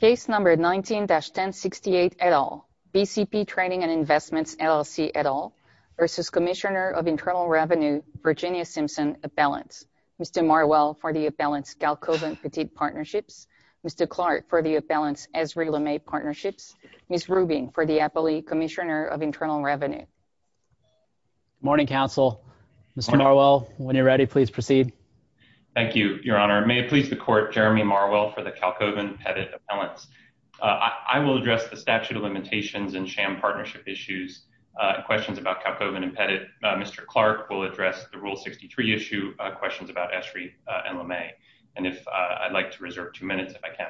Case No. 19-1068 et al. BCP Trading and Investments LLC et al. v. Cmsnr of Internal Revenue, Virginia Simpson Appellants. Mr. Marwell for the Appellants, Galkoven Petite Partnerships. Mr. Clark for the Appellants, Esri LeMay Partnerships. Ms. Rubin for the Appellee, Cmsnr of Internal Revenue. Morning, Counsel. Mr. Marwell, when you're ready, please proceed. Thank you, Your Honor. May it please the Court, Jeremy Marwell for the Galkoven Petite Appellants. I will address the statute of limitations and sham partnership issues, questions about Galkoven and Petite. Mr. Clark will address the Rule 63 issue, questions about Esri and LeMay. And if I'd like to reserve two minutes, if I can.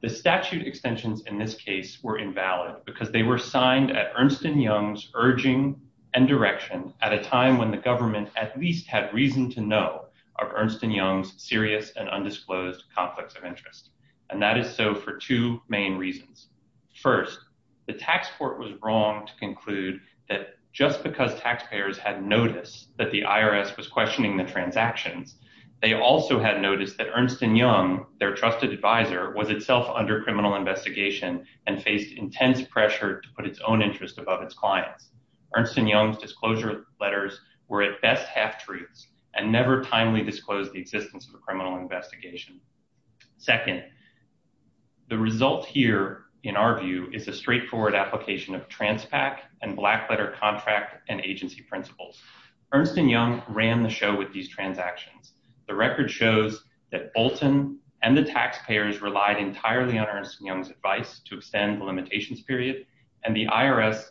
The statute extensions in this case were invalid because they were signed at Ernst & Young's urging and direction at a time when the government at least had reason to know of Ernst & Young's serious and undisclosed conflicts of interest. And that is so for two main reasons. First, the tax court was wrong to conclude that just because taxpayers had noticed that the IRS was questioning the transactions, they also had noticed that Ernst & Young, their trusted advisor, was itself under criminal investigation and faced intense pressure to put its own interest above its clients. Ernst & Young's disclosure letters were at best half-truths and never timely disclosed the existence of a criminal investigation. Second, the result here, in our view, is a straightforward application of Transpac and Blackletter contract and agency principles. Ernst & Young ran the show with these transactions. The record shows that Bolton and the taxpayers relied entirely on Ernst & Young's advice to extend the limitations period, and the IRS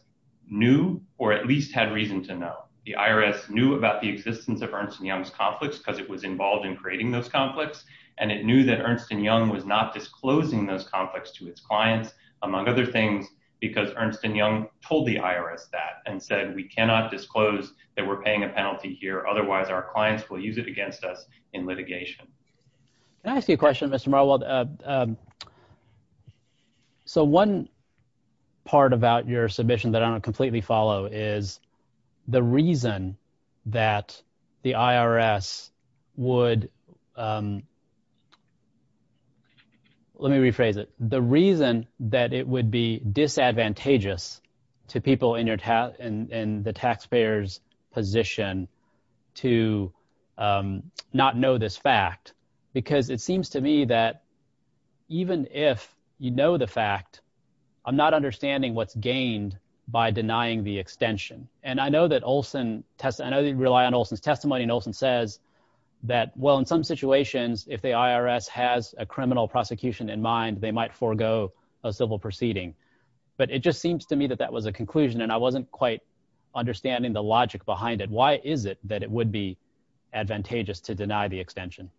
knew or at least had reason to know. The IRS knew about the existence of Ernst & Young's conflicts because it was involved in creating those conflicts, and it knew that Ernst & Young was not disclosing those conflicts to its clients, among other things, because Ernst & Young told the IRS that and said we cannot disclose that we're paying a penalty here, otherwise our clients will use it against us in litigation. Can I ask you a question, Mr. Marwold? Because it seems to me that even if you know the fact, I'm not understanding what's gained by denying the extension. And I know that Olson – I know that you rely on Olson's testimony, and Olson says that, well, in some situations, if the IRS has a criminal prosecution in mind, they might forego a civil proceeding. But it just seems to me that that was a conclusion, and I wasn't quite understanding the logic behind it. Why is it that it would be advantageous to deny the extension?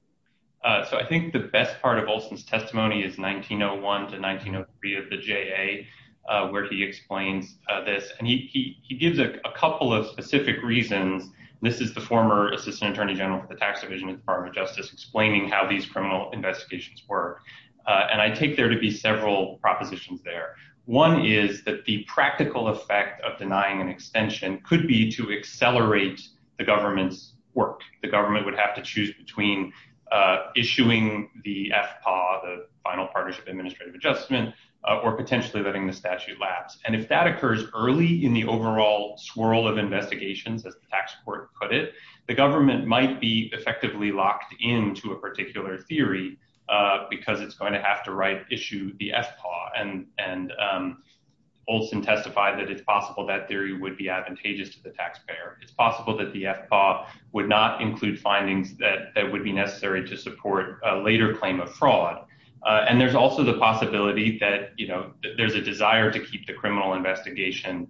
So I think the best part of Olson's testimony is 1901 to 1903 of the JA, where he explains this, and he gives a couple of specific reasons. This is the former Assistant Attorney General for the Tax Division of the Department of Justice explaining how these criminal investigations work. And I take there to be several propositions there. One is that the practical effect of denying an extension could be to accelerate the government's work. The government would have to choose between issuing the FPAW, the Final Partnership Administrative Adjustment, or potentially letting the statute lapse. And if that occurs early in the overall swirl of investigations, as the tax court put it, the government might be effectively locked into a particular theory because it's going to have to issue the FPAW. And Olson testified that it's possible that theory would be advantageous to the taxpayer. It's possible that the FPAW would not include findings that would be necessary to support a later claim of fraud. And there's also the possibility that there's a desire to keep the criminal investigation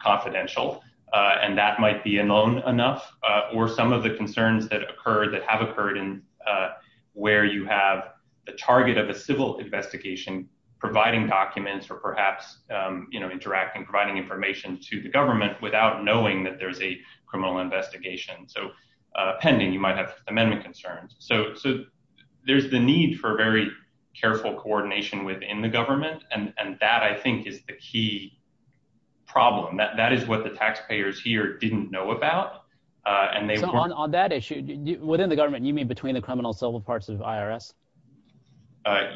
confidential, and that might be unknown enough. Or some of the concerns that have occurred where you have the target of a civil investigation providing documents or perhaps interacting, providing information to the government without knowing that there's a criminal investigation. So pending, you might have amendment concerns. So there's the need for very careful coordination within the government, and that, I think, is the key problem. That is what the taxpayers here didn't know about. So on that issue, within the government, you mean between the criminal and civil parts of IRS?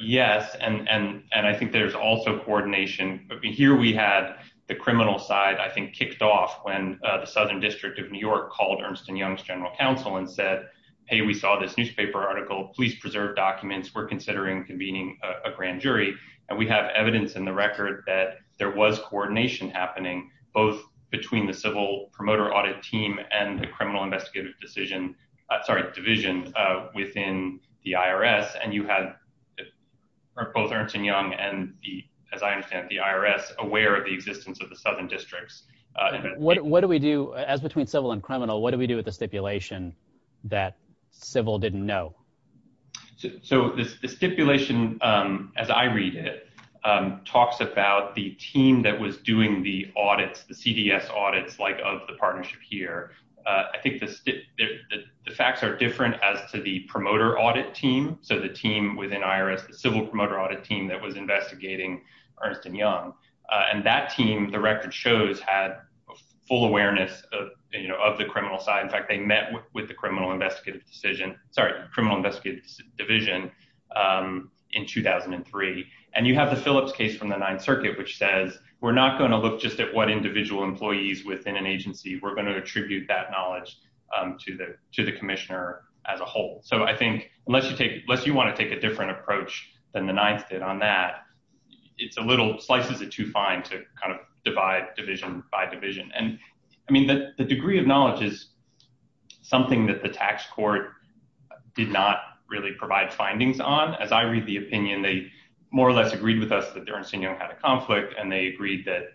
Yes, and I think there's also coordination. Here we had the criminal side, I think, kicked off when the Southern District of New York called Ernst & Young's General Counsel and said, Hey, we saw this newspaper article. Please preserve documents. We're considering convening a grand jury. And we have evidence in the record that there was coordination happening, both between the civil promoter audit team and the criminal investigative division within the IRS. And you had both Ernst & Young and, as I understand, the IRS aware of the existence of the Southern Districts. What do we do, as between civil and criminal, what do we do with the stipulation that civil didn't know? So the stipulation, as I read it, talks about the team that was doing the audits, the CDS audits, like of the partnership here. I think the facts are different as to the promoter audit team. So the team within IRS, the civil promoter audit team that was investigating Ernst & Young, and that team, the record shows, had full awareness of the criminal side. In fact, they met with the criminal investigative division in 2003. And you have the Phillips case from the Ninth Circuit, which says we're not going to look just at what individual employees within an agency. We're going to attribute that knowledge to the commissioner as a whole. So I think, unless you want to take a different approach than the Ninth did on that, it's a little, slices it too fine to kind of divide division by division. And I mean, the degree of knowledge is something that the tax court did not really provide findings on. As I read the opinion, they more or less agreed with us that Ernst & Young had a conflict, and they agreed that,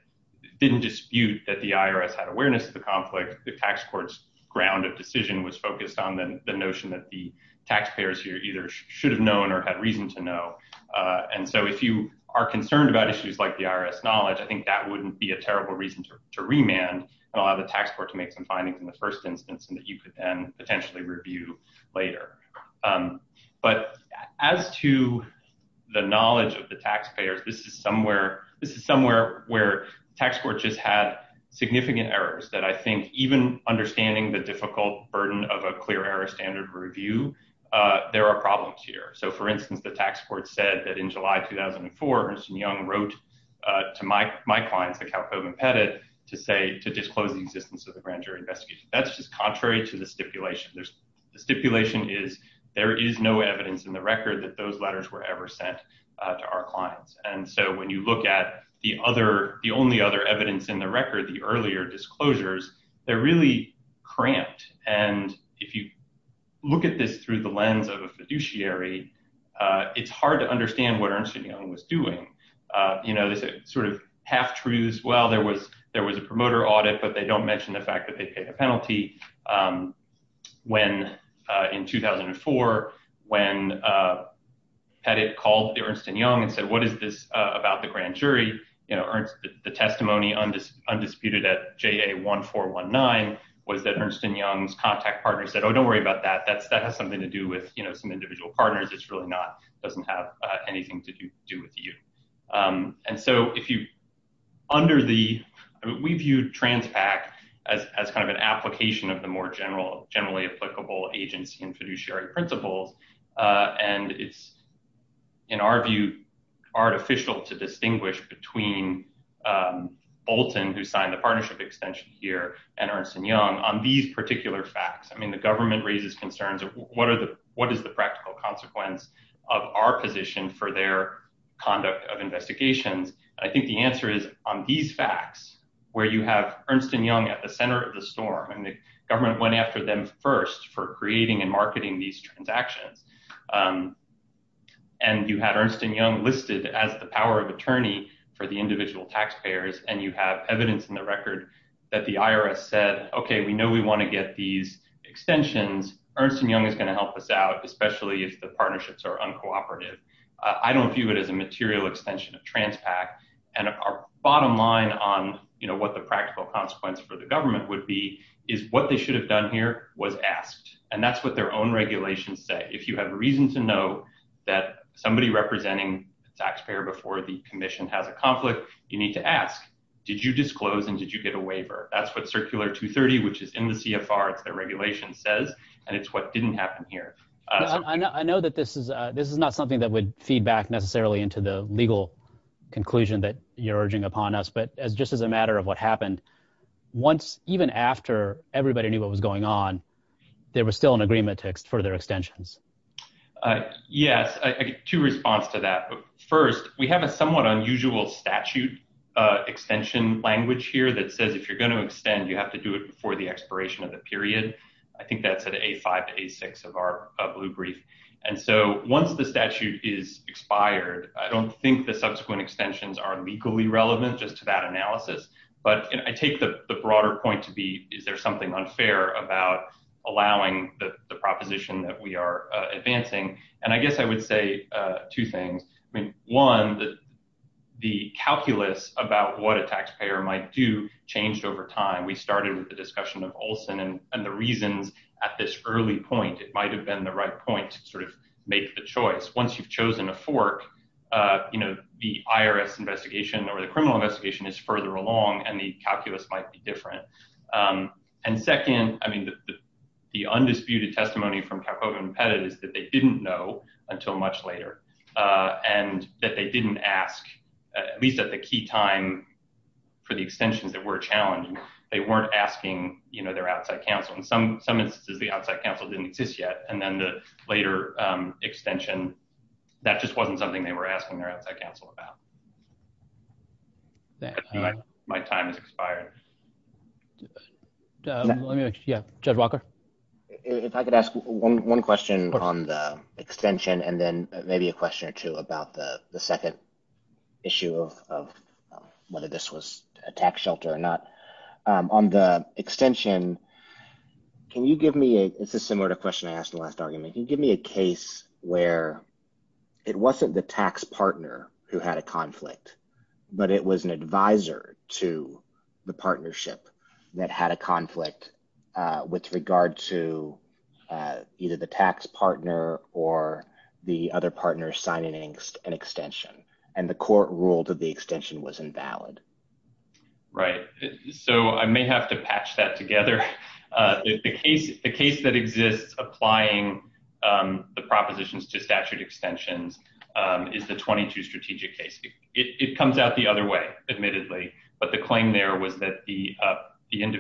didn't dispute that the IRS had awareness of the conflict. The tax court's ground of decision was focused on the notion that the taxpayers here either should have known or had reason to know. And so if you are concerned about issues like the IRS knowledge, I think that wouldn't be a terrible reason to remand and allow the tax court to make some findings in the first instance and that you could then potentially review later. But as to the knowledge of the taxpayers, this is somewhere where the tax court just had significant errors that I think, even understanding the difficult burden of a clear error standard review, there are problems here. So for instance, the tax court said that in July 2004, Ernst & Young wrote to my clients, the Kalkoven Pettit, to say, to disclose the existence of the grand jury investigation. That's just contrary to the stipulation. The stipulation is there is no evidence in the record that those letters were ever sent to our clients. And so when you look at the only other evidence in the record, the earlier disclosures, they're really cramped. And if you look at this through the lens of a fiduciary, it's hard to understand what Ernst & Young was doing. You know, this sort of half-truths, well, there was a promoter audit, but they don't mention the fact that they paid a penalty. In 2004, when Pettit called Ernst & Young and said, what is this about the grand jury? The testimony undisputed at JA1419 was that Ernst & Young's contact partner said, oh, don't worry about that. That has something to do with some individual partners. It doesn't have anything to do with you. And so if you, under the, we viewed TransPAC as kind of an application of the more generally applicable agency and fiduciary principles. And it's, in our view, artificial to distinguish between Bolton, who signed the partnership extension here, and Ernst & Young on these particular facts. I mean, the government raises concerns of what are the, what is the practical consequence of our position for their conduct of investigations? I think the answer is on these facts, where you have Ernst & Young at the center of the storm and the government went after them first for creating and marketing these transactions. And you had Ernst & Young listed as the power of attorney for the individual taxpayers. And you have evidence in the record that the IRS said, OK, we know we want to get these extensions. Ernst & Young is going to help us out, especially if the partnerships are uncooperative. I don't view it as a material extension of TransPAC. And our bottom line on what the practical consequence for the government would be is what they should have done here was asked. And that's what their own regulations say. If you have reason to know that somebody representing the taxpayer before the commission has a conflict, you need to ask, did you disclose and did you get a waiver? That's what Circular 230, which is in the CFR, it's their regulation, says. And it's what didn't happen here. I know that this is this is not something that would feed back necessarily into the legal conclusion that you're urging upon us. But as just as a matter of what happened once, even after everybody knew what was going on, there was still an agreement for their extensions. Yes. Two response to that. First, we have a somewhat unusual statute extension language here that says if you're going to extend, you have to do it before the expiration of the period. I think that's an A5, A6 of our blue brief. And so once the statute is expired, I don't think the subsequent extensions are legally relevant just to that analysis. But I take the broader point to be, is there something unfair about allowing the proposition that we are advancing? And I guess I would say two things. I mean, one, the calculus about what a taxpayer might do changed over time. We started with the discussion of Olson and the reasons at this early point, it might have been the right point to sort of make the choice. Once you've chosen a fork, you know, the IRS investigation or the criminal investigation is further along and the calculus might be different. And second, I mean, the undisputed testimony from Kalkova and Pettit is that they didn't know until much later and that they didn't ask, at least at the key time, for the extensions that were challenging. They weren't asking, you know, their outside counsel. In some instances, the outside counsel didn't exist yet. And then the later extension, that just wasn't something they were asking their outside counsel about. My time has expired. Judge Walker? If I could ask one question on the extension and then maybe a question or two about the second issue of whether this was a tax shelter or not. On the extension, can you give me a, this is similar to a question I asked in the last argument, can you give me a case where it wasn't the tax partner who had a conflict, but it was an advisor to the partnership that had a conflict with regard to either the tax partner or the other partner signing an extension and the court ruled that the extension was invalid? Right, so I may have to patch that together. The case that exists applying the propositions to statute extensions is the 22 strategic case. It comes out the other way, admittedly, but the claim there was that the I don't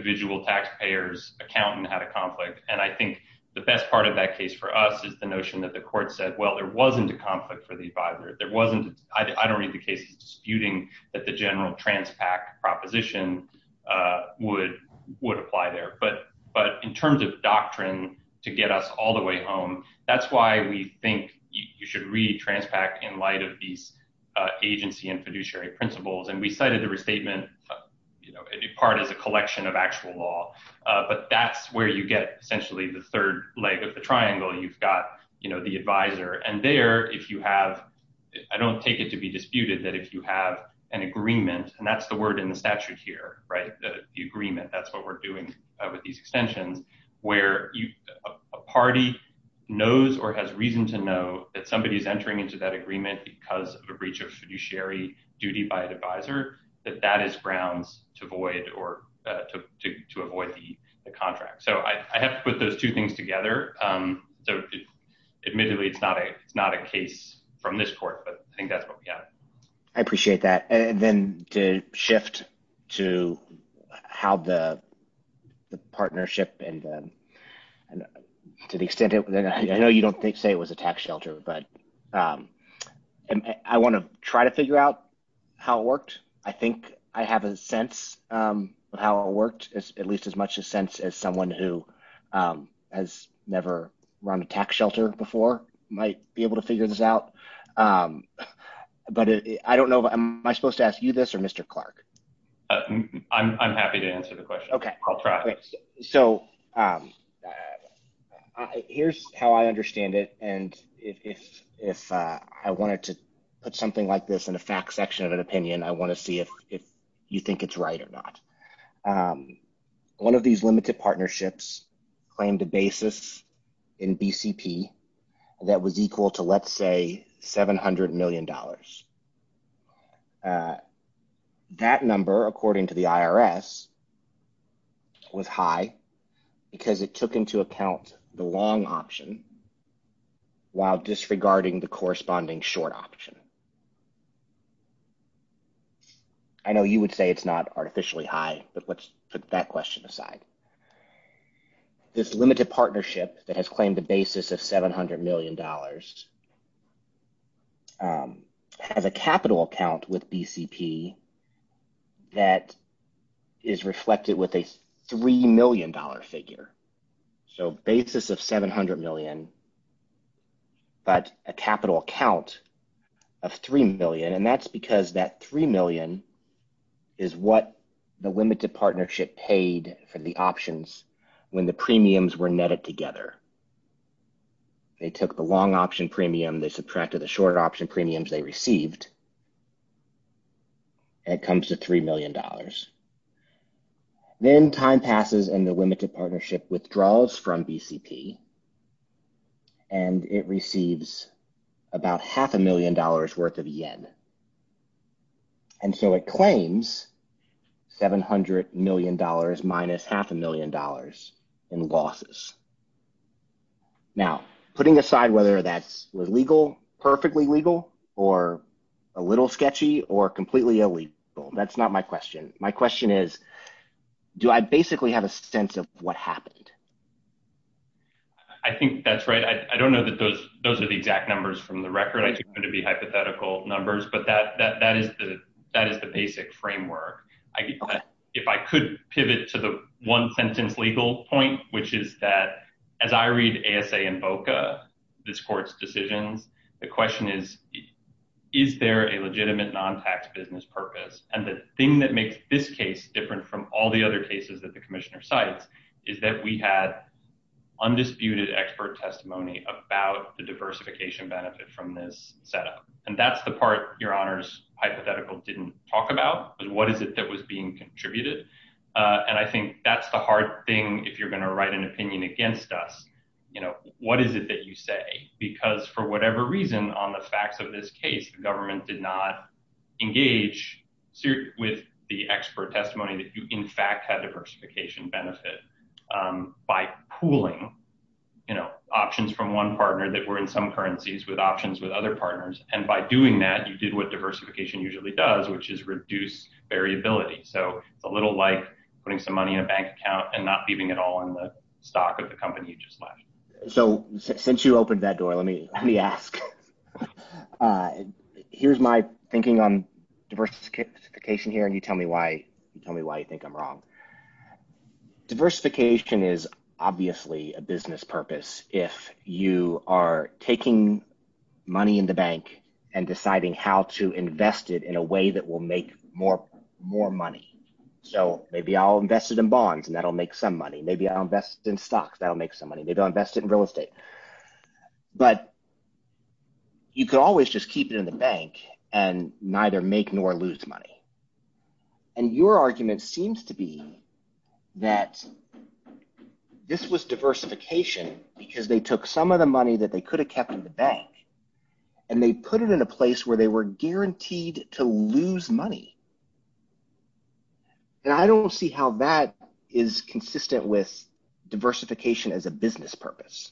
read the case as disputing that the general Transpac proposition would apply there. But in terms of doctrine to get us all the way home, that's why we think you should read Transpac in light of these agency and fiduciary principles. We cited the restatement in part as a collection of actual law, but that's where you get essentially the third leg of the triangle. You've got the advisor and there, if you have, I don't take it to be disputed that if you have an agreement, and that's the word in the statute here, the agreement, that's what we're doing with these extensions, where a party knows or has reason to know that somebody is entering into that agreement because of a breach of fiduciary duty by an advisor, that that is grounds to avoid the contract. So I have to put those two things together. So admittedly, it's not a case from this court, but I think that's what we have. I appreciate that. And then to shift to how the partnership and to the extent it – I know you don't say it was a tax shelter, but I want to try to figure out how it worked. I think I have a sense of how it worked, at least as much a sense as someone who has never run a tax shelter before might be able to figure this out. But I don't know. Am I supposed to ask you this or Mr. Clark? I'm happy to answer the question. I'll try. Okay, so here's how I understand it, and if I wanted to put something like this in a fact section of an opinion, I want to see if you think it's right or not. One of these limited partnerships claimed a basis in BCP that was equal to, let's say, $700 million. That number, according to the IRS, was high because it took into account the long option while disregarding the corresponding short option. I know you would say it's not artificially high, but let's put that question aside. This limited partnership that has claimed a basis of $700 million has a capital account with BCP that is reflected with a $3 million figure. So basis of $700 million but a capital account of $3 million, and that's because that $3 million is what the limited partnership paid for the options when the premiums were netted together. They took the long option premium. They subtracted the short option premiums they received, and it comes to $3 million. Then time passes, and the limited partnership withdraws from BCP, and it receives about half a million dollars worth of yen. And so it claims $700 million minus half a million dollars in losses. Now, putting aside whether that's legal, perfectly legal, or a little sketchy, or completely illegal, that's not my question. My question is, do I basically have a sense of what happened? I think that's right. I don't know that those are the exact numbers from the record. I think they're going to be hypothetical numbers, but that is the basic framework. If I could pivot to the one-sentence legal point, which is that as I read ASA and VOCA, this court's decisions, the question is, is there a legitimate non-tax business purpose? And the thing that makes this case different from all the other cases that the Commissioner cites is that we had undisputed expert testimony about the diversification benefit from this setup. And that's the part Your Honor's hypothetical didn't talk about, was what is it that was being contributed? And I think that's the hard thing if you're going to write an opinion against us. What is it that you say? Because for whatever reason on the facts of this case, the government did not engage with the expert testimony that you in fact had diversification benefit by pooling options from one partner that were in some currencies with options with other partners. And by doing that, you did what diversification usually does, which is reduce variability. So it's a little like putting some money in a bank account and not leaving it all in the stock of the company you just left. So since you opened that door, let me ask. Here's my thinking on diversification here, and you tell me why you think I'm wrong. Diversification is obviously a business purpose if you are taking money in the bank and deciding how to invest it in a way that will make more money. So maybe I'll invest it in bonds, and that will make some money. Maybe I'll invest it in stocks. That will make some money. Maybe I'll invest it in real estate. But you could always just keep it in the bank and neither make nor lose money. And your argument seems to be that this was diversification because they took some of the money that they could have kept in the bank, and they put it in a place where they were guaranteed to lose money. And I don't see how that is consistent with diversification as a business purpose.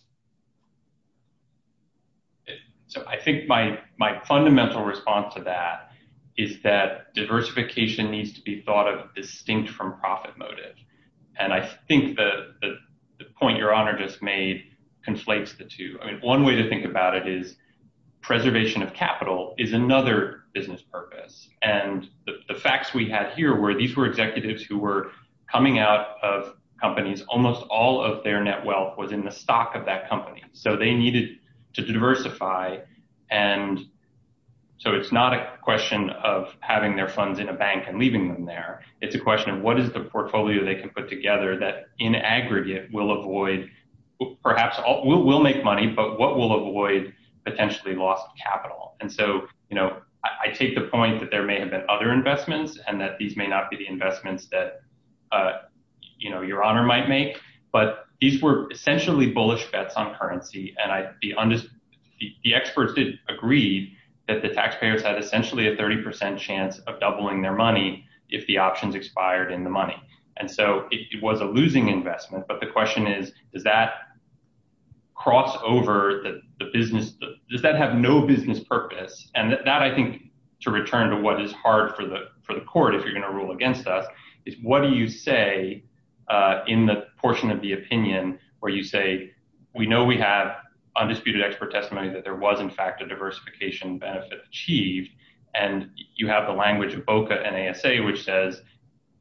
So I think my fundamental response to that is that diversification needs to be thought of distinct from profit motive. And I think the point Your Honor just made conflates the two. I mean, one way to think about it is preservation of capital is another business purpose. And the facts we had here were these were executives who were coming out of companies. Almost all of their net wealth was in the stock of that company. So they needed to diversify. And so it's not a question of having their funds in a bank and leaving them there. It's a question of what is the portfolio they can put together that in aggregate will avoid, perhaps will make money, but what will avoid potentially lost capital. And so, you know, I take the point that there may have been other investments and that these may not be the investments that, you know, Your Honor might make. But these were essentially bullish bets on currency. And the experts did agree that the taxpayers had essentially a 30 percent chance of doubling their money if the options expired in the money. And so it was a losing investment. But the question is, does that cross over the business? Does that have no business purpose? And that I think to return to what is hard for the for the court. If you're going to rule against us is what do you say In the portion of the opinion where you say we know we have undisputed expert testimony that there was in fact a diversification benefit achieved. And you have the language of BOCA and ASA, which says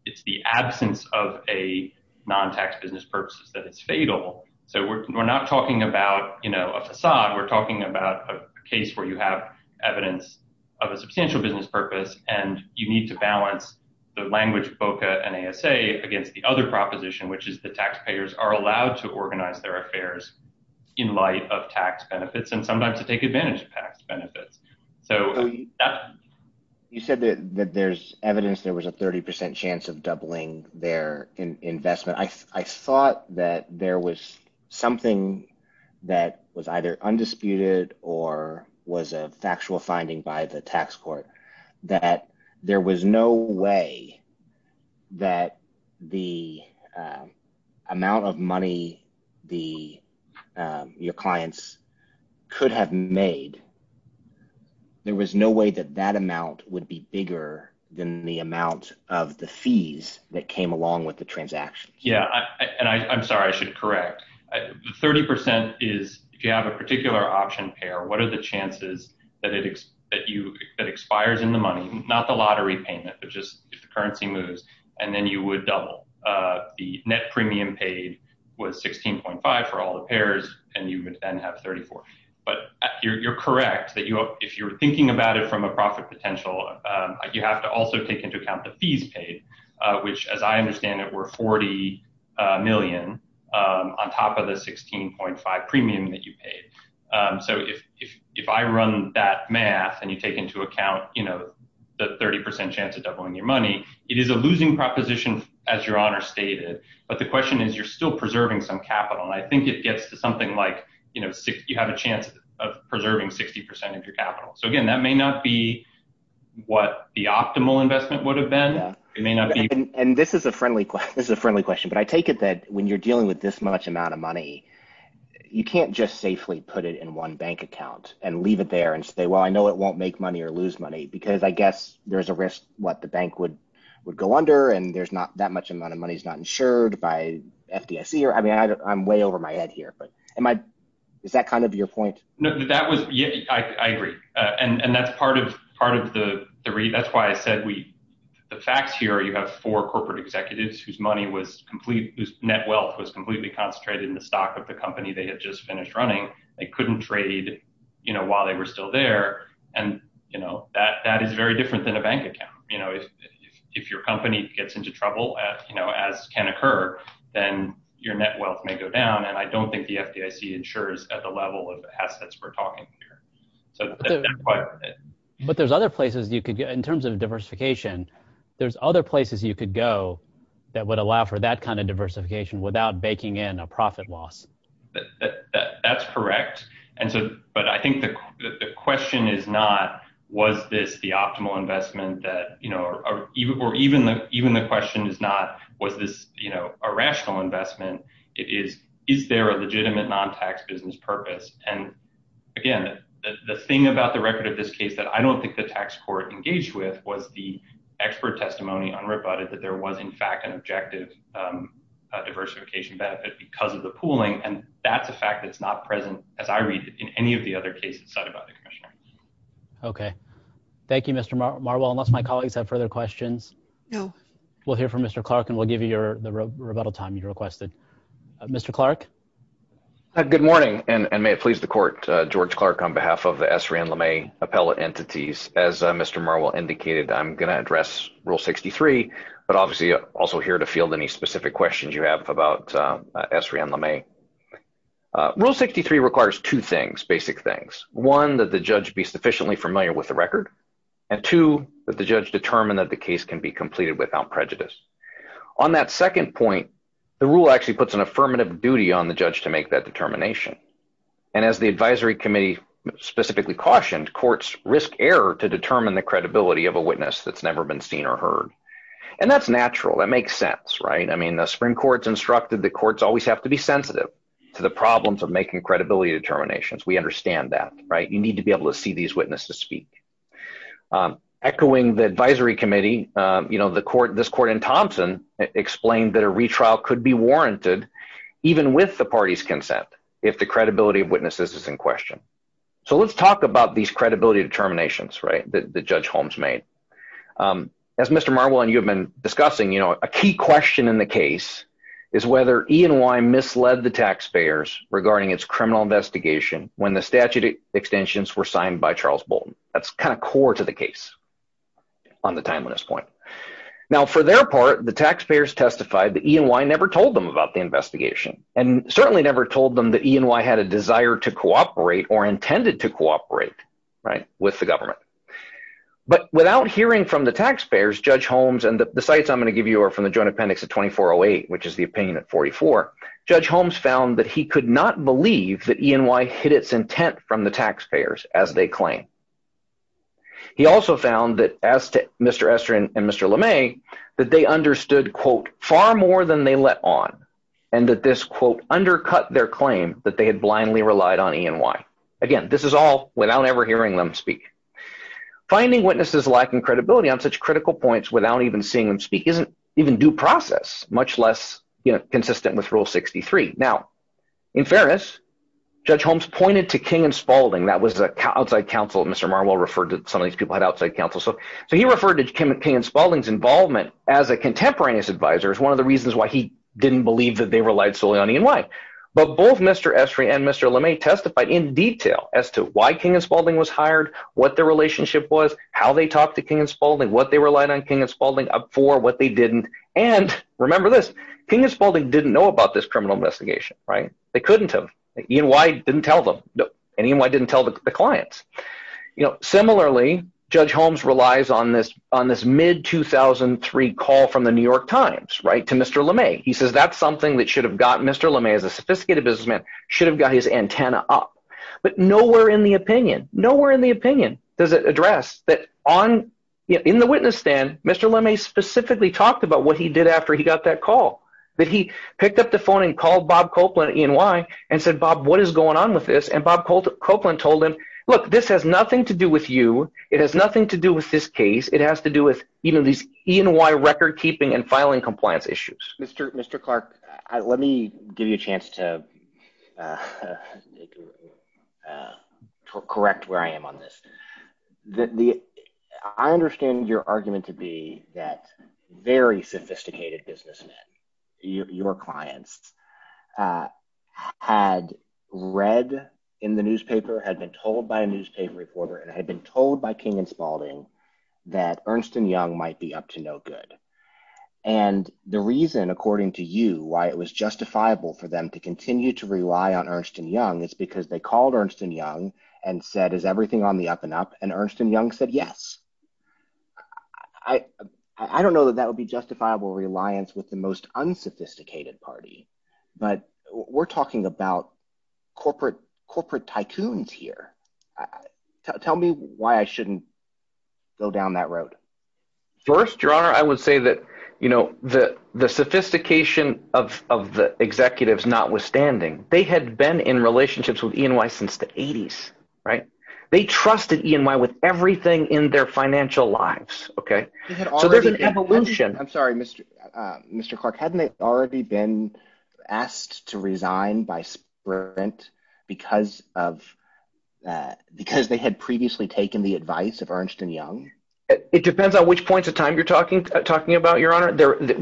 it's the absence of a non tax business purposes that it's fatal. So we're not talking about, you know, a facade. We're talking about a case where you have Evidence of a substantial business purpose and you need to balance the language BOCA and ASA against the other proposition, which is the taxpayers are allowed to organize their affairs. In light of tax benefits and sometimes to take advantage of tax benefits. So You said that there's evidence there was a 30 percent chance of doubling their investment. I thought that there was something that was either undisputed or was a factual finding by the tax court that there was no way that the Amount of money, the your clients could have made There was no way that that amount would be bigger than the amount of the fees that came along with the transaction. Yeah, and I'm sorry, I should correct 30% is if you have a particular option pair. What are the chances that it is that you that expires in the money, not the lottery payment, but just if the currency moves and then you would double The net premium paid was 16.5 for all the pairs and you would then have 34 but you're correct that you if you're thinking about it from a profit potential You have to also take into account the fees paid, which, as I understand it, we're 40 million on top of the 16.5 premium that you paid So if, if, if I run that math and you take into account, you know, the 30% chance of doubling your money. It is a losing proposition, as your honor stated, but the question is, you're still preserving some capital. I think it gets to something like, you know, you have a chance of preserving 60% of your capital. So again, that may not be What the optimal investment would have been. It may not be And this is a friendly. This is a friendly question, but I take it that when you're dealing with this much amount of money. You can't just safely put it in one bank account and leave it there and say, well, I know it won't make money or lose money because I guess there's a risk what the bank would Would go under and there's not that much amount of money is not insured by FDIC or I mean I'm way over my head here, but am I. Is that kind of your point. No, that was. Yeah, I agree. And that's part of part of the three. That's why I said we The facts here. You have four corporate executives whose money was complete net wealth was completely concentrated in the stock of the company. They had just finished running. They couldn't trade, you know, while they were still there. And, you know, that that is very different than a bank account, you know, if If your company gets into trouble at, you know, as can occur, then your net wealth may go down. And I don't think the FDIC ensures at the level of assets. We're talking here so But there's other places you could get in terms of diversification. There's other places you could go that would allow for that kind of diversification without baking in a profit loss. That's correct. And so, but I think the question is not, was this the optimal investment that you know or even or even the even the question is not, was this, you know, a rational investment is, is there a legitimate non tax business purpose and Again, the thing about the record of this case that I don't think the tax court engaged with was the expert testimony on rebutted that there was in fact an objective diversification benefit because of the pooling and that's a fact that's not present as I read in any of the other cases. Okay, thank you, Mr. Marwell, unless my colleagues have further questions. We'll hear from Mr. Clark and we'll give you your rebuttal time you requested. Mr. Clark. Good morning, and may it please the court, George Clark, on behalf of the Esri and LeMay appellate entities as Mr. Marwell indicated, I'm going to address Rule 63 but obviously also here to field any specific questions you have about Esri and LeMay. Rule 63 requires two things, basic things. One, that the judge be sufficiently familiar with the record and two, that the judge determined that the case can be completed without prejudice. On that second point, the rule actually puts an affirmative duty on the judge to make that determination. And as the Advisory Committee specifically cautioned courts risk error to determine the credibility of a witness that's never been seen or heard. And that's natural. That makes sense, right. I mean the Supreme Court's instructed the courts always have to be sensitive to the problems of making credibility determinations. We understand that, right, you need to be able to see these witnesses speak. Echoing the Advisory Committee, you know, this court in Thompson explained that a retrial could be warranted even with the party's consent if the credibility of witnesses is in question. So let's talk about these credibility determinations, right, that Judge Holmes made. As Mr. Marwell and you have been discussing, you know, a key question in the case is whether E&Y misled the taxpayers regarding its criminal investigation when the statute extensions were signed by Charles Bolton. That's kind of core to the case on the timeliness point. Now for their part, the taxpayers testified that E&Y never told them about the investigation and certainly never told them that E&Y had a desire to cooperate or intended to cooperate, right, with the government. But without hearing from the taxpayers, Judge Holmes, and the sites I'm going to give you are from the Joint Appendix of 2408, which is the opinion at 44, Judge Holmes found that he could not believe that E&Y hid its intent from the taxpayers as they claim. He also found that as to Mr. Estrin and Mr. LeMay, that they understood, quote, far more than they let on, and that this, quote, undercut their claim that they had blindly relied on E&Y. Again, this is all without ever hearing them speak. Finding witnesses lacking credibility on such critical points without even seeing them speak isn't even due process, much less consistent with Rule 63. Now, in fairness, Judge Holmes pointed to King and Spaulding. That was an outside counsel. Mr. Marwell referred to some of these people as outside counsel. So he referred to King and Spaulding's involvement as a contemporaneous advisor as one of the reasons why he didn't believe that they relied solely on E&Y. But both Mr. Estrin and Mr. LeMay testified in detail as to why King and Spaulding was hired, what their relationship was, how they talked to King and Spaulding, what they relied on King and Spaulding for, what they didn't. And remember this, King and Spaulding didn't know about this criminal investigation, right? They couldn't have. E&Y didn't tell them, and E&Y didn't tell the clients. Similarly, Judge Holmes relies on this mid-2003 call from the New York Times to Mr. LeMay. He says that's something that should have gotten Mr. LeMay, as a sophisticated businessman, should have got his antenna up. But nowhere in the opinion does it address that in the witness stand, Mr. LeMay specifically talked about what he did after he got that call, that he picked up the phone and called Bob Copeland at E&Y and said, Bob, what is going on with this? And Bob Copeland told him, look, this has nothing to do with you. It has nothing to do with this case. It has to do with these E&Y recordkeeping and filing compliance issues. Mr. Clark, let me give you a chance to correct where I am on this. I understand your argument to be that very sophisticated businessmen, your clients, had read in the newspaper, had been told by a newspaper reporter, and had been told by King and Spaulding that Ernst & Young might be up to no good. And the reason, according to you, why it was justifiable for them to continue to rely on Ernst & Young is because they called Ernst & Young and said, is everything on the up and up? And Ernst & Young said yes. I don't know that that would be justifiable reliance with the most unsophisticated party, but we're talking about corporate tycoons here. Tell me why I shouldn't go down that road. First, Your Honor, I would say that the sophistication of the executives notwithstanding, they had been in relationships with E&Y since the 80s. They trusted E&Y with everything in their financial lives, so there's an evolution. I'm sorry, Mr. Clark. Hadn't they already been asked to resign by Sprint because they had previously taken the advice of Ernst & Young? It depends on which points in time you're talking about, Your Honor.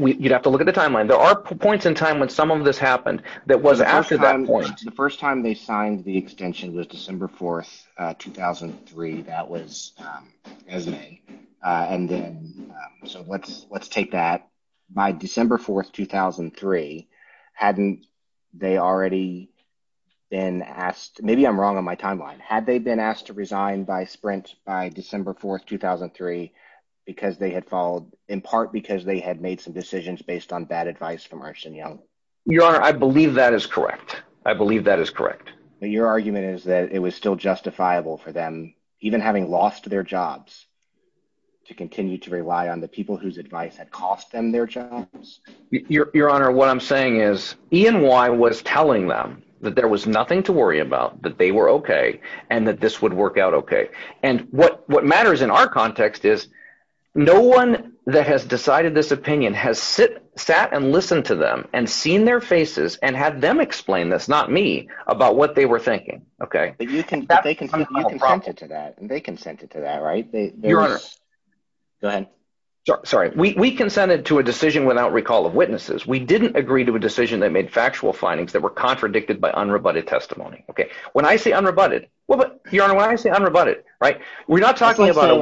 You'd have to look at the timeline. There are points in time when some of this happened that was after that point. The first time they signed the extension was December 4, 2003. That was as of May. So let's take that. By December 4, 2003, hadn't they already been asked – maybe I'm wrong on my timeline. Had they been asked to resign by Sprint by December 4, 2003 because they had followed – in part because they had made some decisions based on bad advice from Ernst & Young? Your Honor, I believe that is correct. I believe that is correct. Your argument is that it was still justifiable for them, even having lost their jobs, to continue to rely on the people whose advice had cost them their jobs? Your Honor, what I'm saying is E&Y was telling them that there was nothing to worry about, that they were okay, and that this would work out okay. And what matters in our context is no one that has decided this opinion has sat and listened to them and seen their faces and had them explain this, not me, about what they were thinking. You consented to that, and they consented to that, right? Your Honor. Go ahead. Sorry. We consented to a decision without recall of witnesses. We didn't agree to a decision that made factual findings that were contradicted by unrebutted testimony. When I say unrebutted – well, Your Honor, when I say unrebutted, we're not talking about a…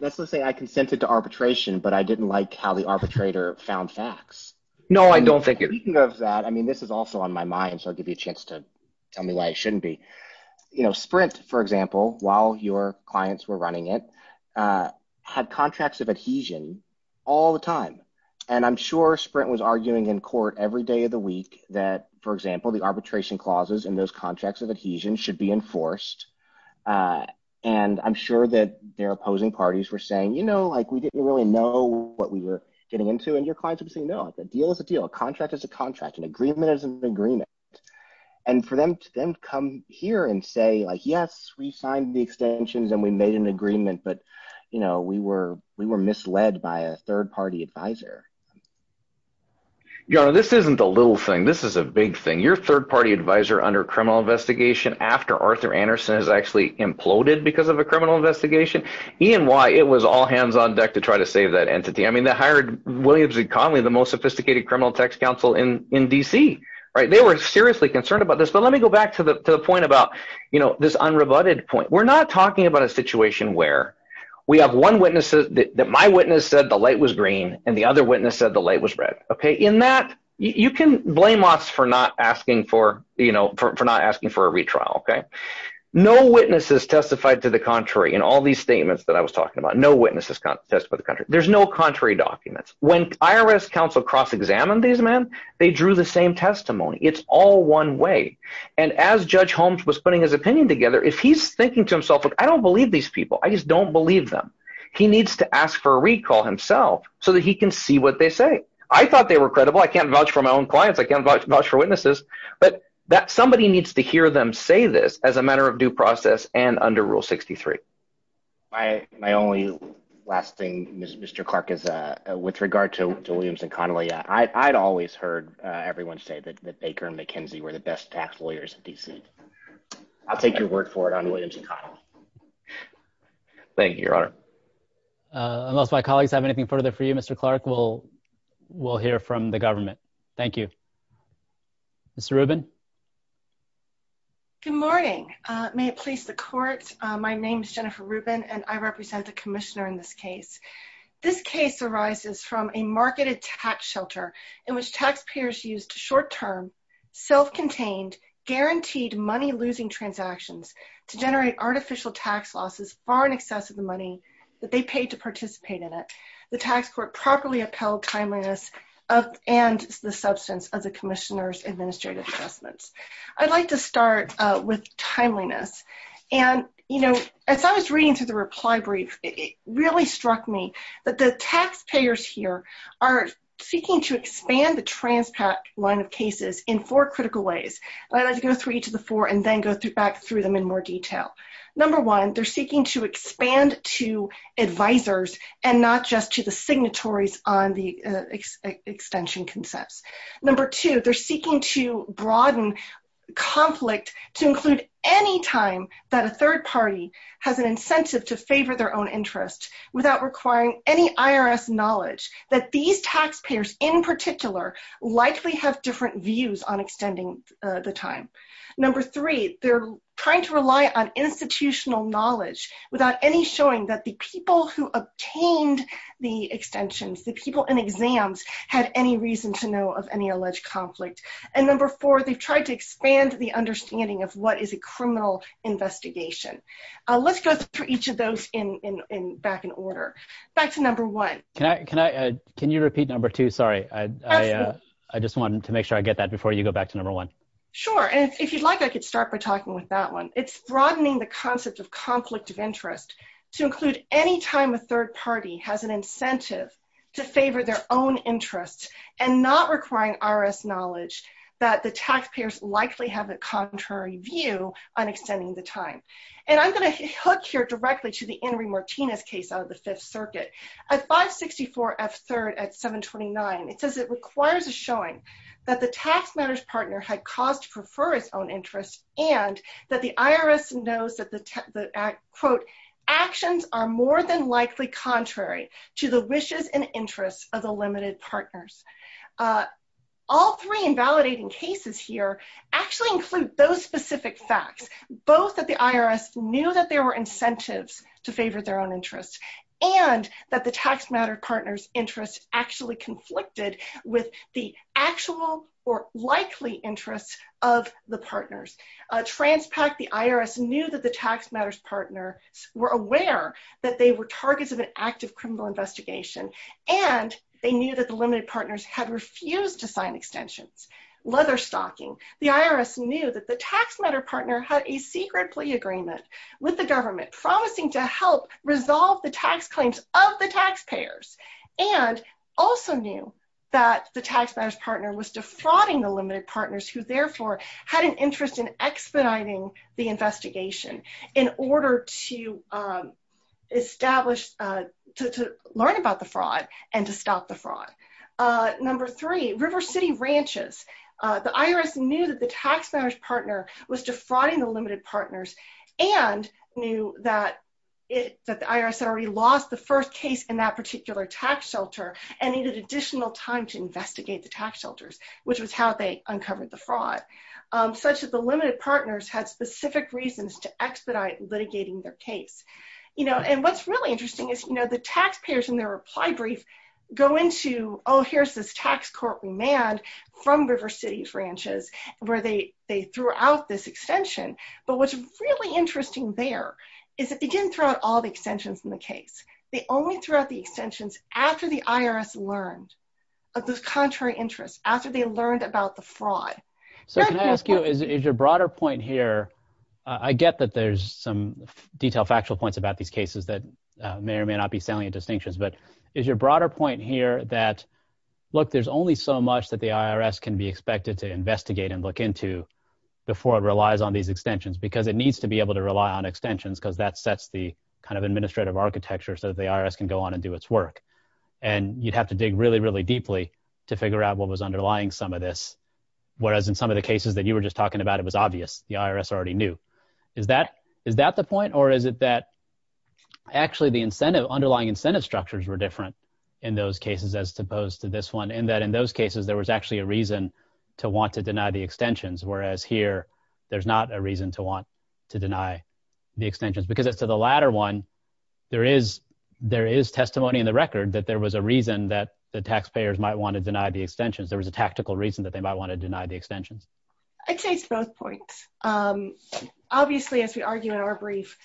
Let's just say I consented to arbitration, but I didn't like how the arbitrator found facts. No, I don't think it – Speaking of that, I mean this is also on my mind, so I'll give you a chance to tell me why it shouldn't be. Sprint, for example, while your clients were running it, had contracts of adhesion all the time. And I'm sure Sprint was arguing in court every day of the week that, for example, the arbitration clauses in those contracts of adhesion should be enforced. And I'm sure that their opposing parties were saying we didn't really know what we were getting into, and your clients would say no. A deal is a deal. A contract is a contract. An agreement is an agreement. And for them to then come here and say yes, we signed the extensions, and we made an agreement, but we were misled by a third-party advisor. Your Honor, this isn't a little thing. This is a big thing. Your third-party advisor under criminal investigation after Arthur Anderson has actually imploded because of a criminal investigation, E&Y, it was all hands on deck to try to save that entity. I mean they hired William Z. Connolly, the most sophisticated criminal tax counsel in D.C. They were seriously concerned about this, but let me go back to the point about this unrebutted point. We're not talking about a situation where we have one witness that my witness said the light was green, and the other witness said the light was red. In that, you can blame us for not asking for a retrial. No witnesses testified to the contrary in all these statements that I was talking about. No witnesses testified to the contrary. There's no contrary documents. When IRS counsel cross-examined these men, they drew the same testimony. It's all one way. And as Judge Holmes was putting his opinion together, if he's thinking to himself, I don't believe these people. I just don't believe them. He needs to ask for a recall himself so that he can see what they say. I thought they were credible. I can't vouch for my own clients. I can't vouch for witnesses. But somebody needs to hear them say this as a matter of due process and under Rule 63. My only last thing, Mr. Clark, is with regard to Williams and Connolly, I'd always heard everyone say that Baker and McKenzie were the best tax lawyers in D.C. I'll take your word for it on Williams and Connolly. Thank you, Your Honor. Unless my colleagues have anything further for you, Mr. Clark, we'll hear from the government. Thank you. Mr. Rubin? Good morning. May it please the Court. My name is Jennifer Rubin, and I represent the commissioner in this case. This case arises from a marketed tax shelter in which taxpayers used short-term, self-contained, guaranteed money-losing transactions to generate artificial tax losses far in excess of the money that they paid to participate in it. The tax court properly upheld timeliness and the substance of the commissioner's administrative assessments. I'd like to start with timeliness. And, you know, as I was reading through the reply brief, it really struck me that the taxpayers here are seeking to expand the TransPAC line of cases in four critical ways. I'd like to go through each of the four and then go back through them in more detail. Number one, they're seeking to expand to advisers and not just to the signatories on the extension concepts. Number two, they're seeking to broaden conflict to include any time that a third party has an incentive to favor their own interest without requiring any IRS knowledge that these taxpayers in particular likely have different views on extending the time. Number three, they're trying to rely on institutional knowledge without any showing that the people who obtained the extensions, the people in exams, had any reason to know of any alleged conflict. And number four, they've tried to expand the understanding of what is a criminal investigation. Let's go through each of those back in order. Back to number one. Can you repeat number two? Sorry. Absolutely. I just wanted to make sure I get that before you go back to number one. Sure. And if you'd like, I could start by talking with that one. It's broadening the concept of conflict of interest to include any time a third party has an incentive to favor their own interests and not requiring IRS knowledge that the taxpayers likely have a contrary view on extending the time. And I'm going to hook here directly to the Henry Martinez case out of the Fifth Circuit. At 564 F. 3rd at 729, it says it requires a showing that the tax matters partner had caused to prefer his own interest and that the IRS knows that the, quote, actions are more than likely contrary to the wishes and interests of the limited partners. All three invalidating cases here actually include those specific facts, both that the IRS knew that there were incentives to favor their own interests and that the tax matters partners interest actually conflicted with the actual or likely interest of the partners. Transpac, the IRS knew that the tax matters partner were aware that they were targets of an active criminal investigation and they knew that the limited partners had refused to sign extensions. Leather stocking. The IRS knew that the tax matter partner had a secret plea agreement with the government promising to help resolve the tax claims of the taxpayers. And also knew that the tax matters partner was defrauding the limited partners who therefore had an interest in expediting the investigation in order to Establish to learn about the fraud and to stop the fraud. Number three, River City ranches. The IRS knew that the tax matters partner was defrauding the limited partners and knew that It that the IRS had already lost the first case in that particular tax shelter and needed additional time to investigate the tax shelters, which was how they uncovered the fraud. Such as the limited partners had specific reasons to expedite litigating their case, you know, and what's really interesting is, you know, the taxpayers in their reply brief. Go into, oh, here's this tax court remand from River City branches, where they they threw out this extension. But what's really interesting there. Is it didn't throw out all the extensions in the case, they only throughout the extensions after the IRS learned of this contrary interest after they learned about the fraud. So can I ask you, is your broader point here. I get that there's some detail factual points about these cases that may or may not be salient distinctions, but is your broader point here that Look, there's only so much that the IRS can be expected to investigate and look into Before it relies on these extensions, because it needs to be able to rely on extensions, because that sets the kind of administrative architecture so that the IRS can go on and do its work. And you'd have to dig really, really deeply to figure out what was underlying some of this, whereas in some of the cases that you were just talking about it was obvious the IRS already knew Is that, is that the point or is it that actually the incentive underlying incentive structures were different. In those cases, as opposed to this one, and that in those cases, there was actually a reason to want to deny the extensions, whereas here. There's not a reason to want to deny The extensions, because as to the latter one, there is there is testimony in the record that there was a reason that the taxpayers might want to deny the extensions. There was a tactical reason that they might want to deny the extensions. I'd say it's both points. Obviously, as we argue in our brief,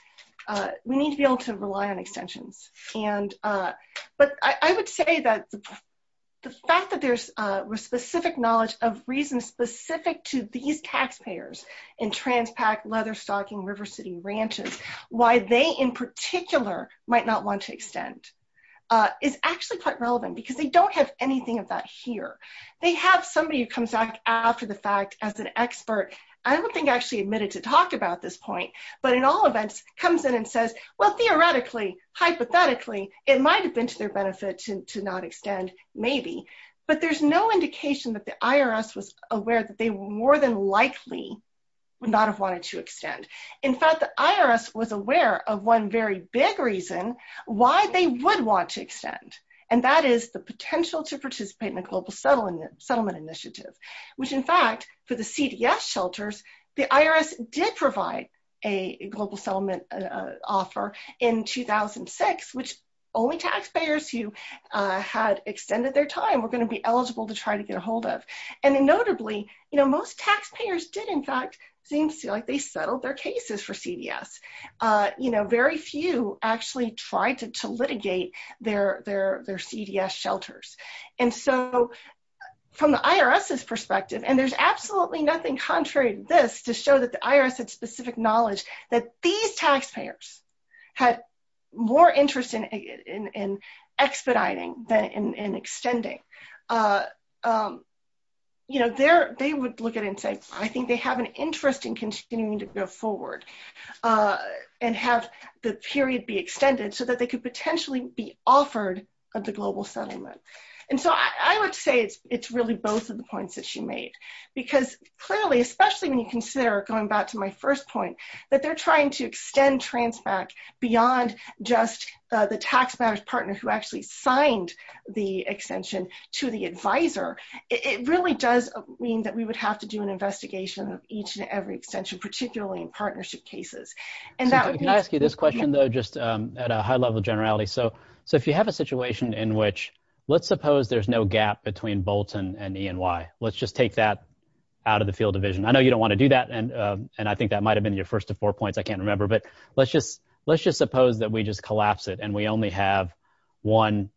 we need to be able to rely on extensions and but I would say that The fact that there's specific knowledge of reasons specific to these taxpayers in Transpac, leather stocking, River City, ranches, why they in particular might not want to extend Is actually quite relevant because they don't have anything of that here. They have somebody who comes back after the fact, as an expert. I don't think actually admitted to talk about this point, but in all events comes in and says, well, theoretically, hypothetically, it might have been to their benefit to not extend, maybe But there's no indication that the IRS was aware that they were more than likely would not have wanted to extend. In fact, the IRS was aware of one very big reason why they would want to extend And that is the potential to participate in a global settlement initiative, which in fact for the CDS shelters, the IRS did provide a global settlement Offer in 2006 which only taxpayers who had extended their time we're going to be eligible to try to get a hold of And notably, you know, most taxpayers did in fact seems like they settled their cases for CDS, you know, very few actually tried to litigate their CDS shelters and so From the IRS's perspective, and there's absolutely nothing contrary to this to show that the IRS had specific knowledge that these taxpayers had more interest in expediting than in extending You know, they're, they would look at it and say, I think they have an interest in continuing to go forward. And have the period be extended so that they could potentially be offered of the global settlement. And so I would say it's it's really both of the points that she made. Because clearly, especially when you consider going back to my first point that they're trying to extend trans back beyond just The taxpayers partner who actually signed the extension to the advisor. It really does mean that we would have to do an investigation of each and every extension, particularly in partnership cases. Can I ask you this question, though, just at a high level generality. So, so if you have a situation in which let's suppose there's no gap between Bolton and E&Y, let's just take that Out of the field division. I know you don't want to do that. And, and I think that might have been your first of four points. I can't remember, but let's just let's just suppose that we just collapse it and we only have one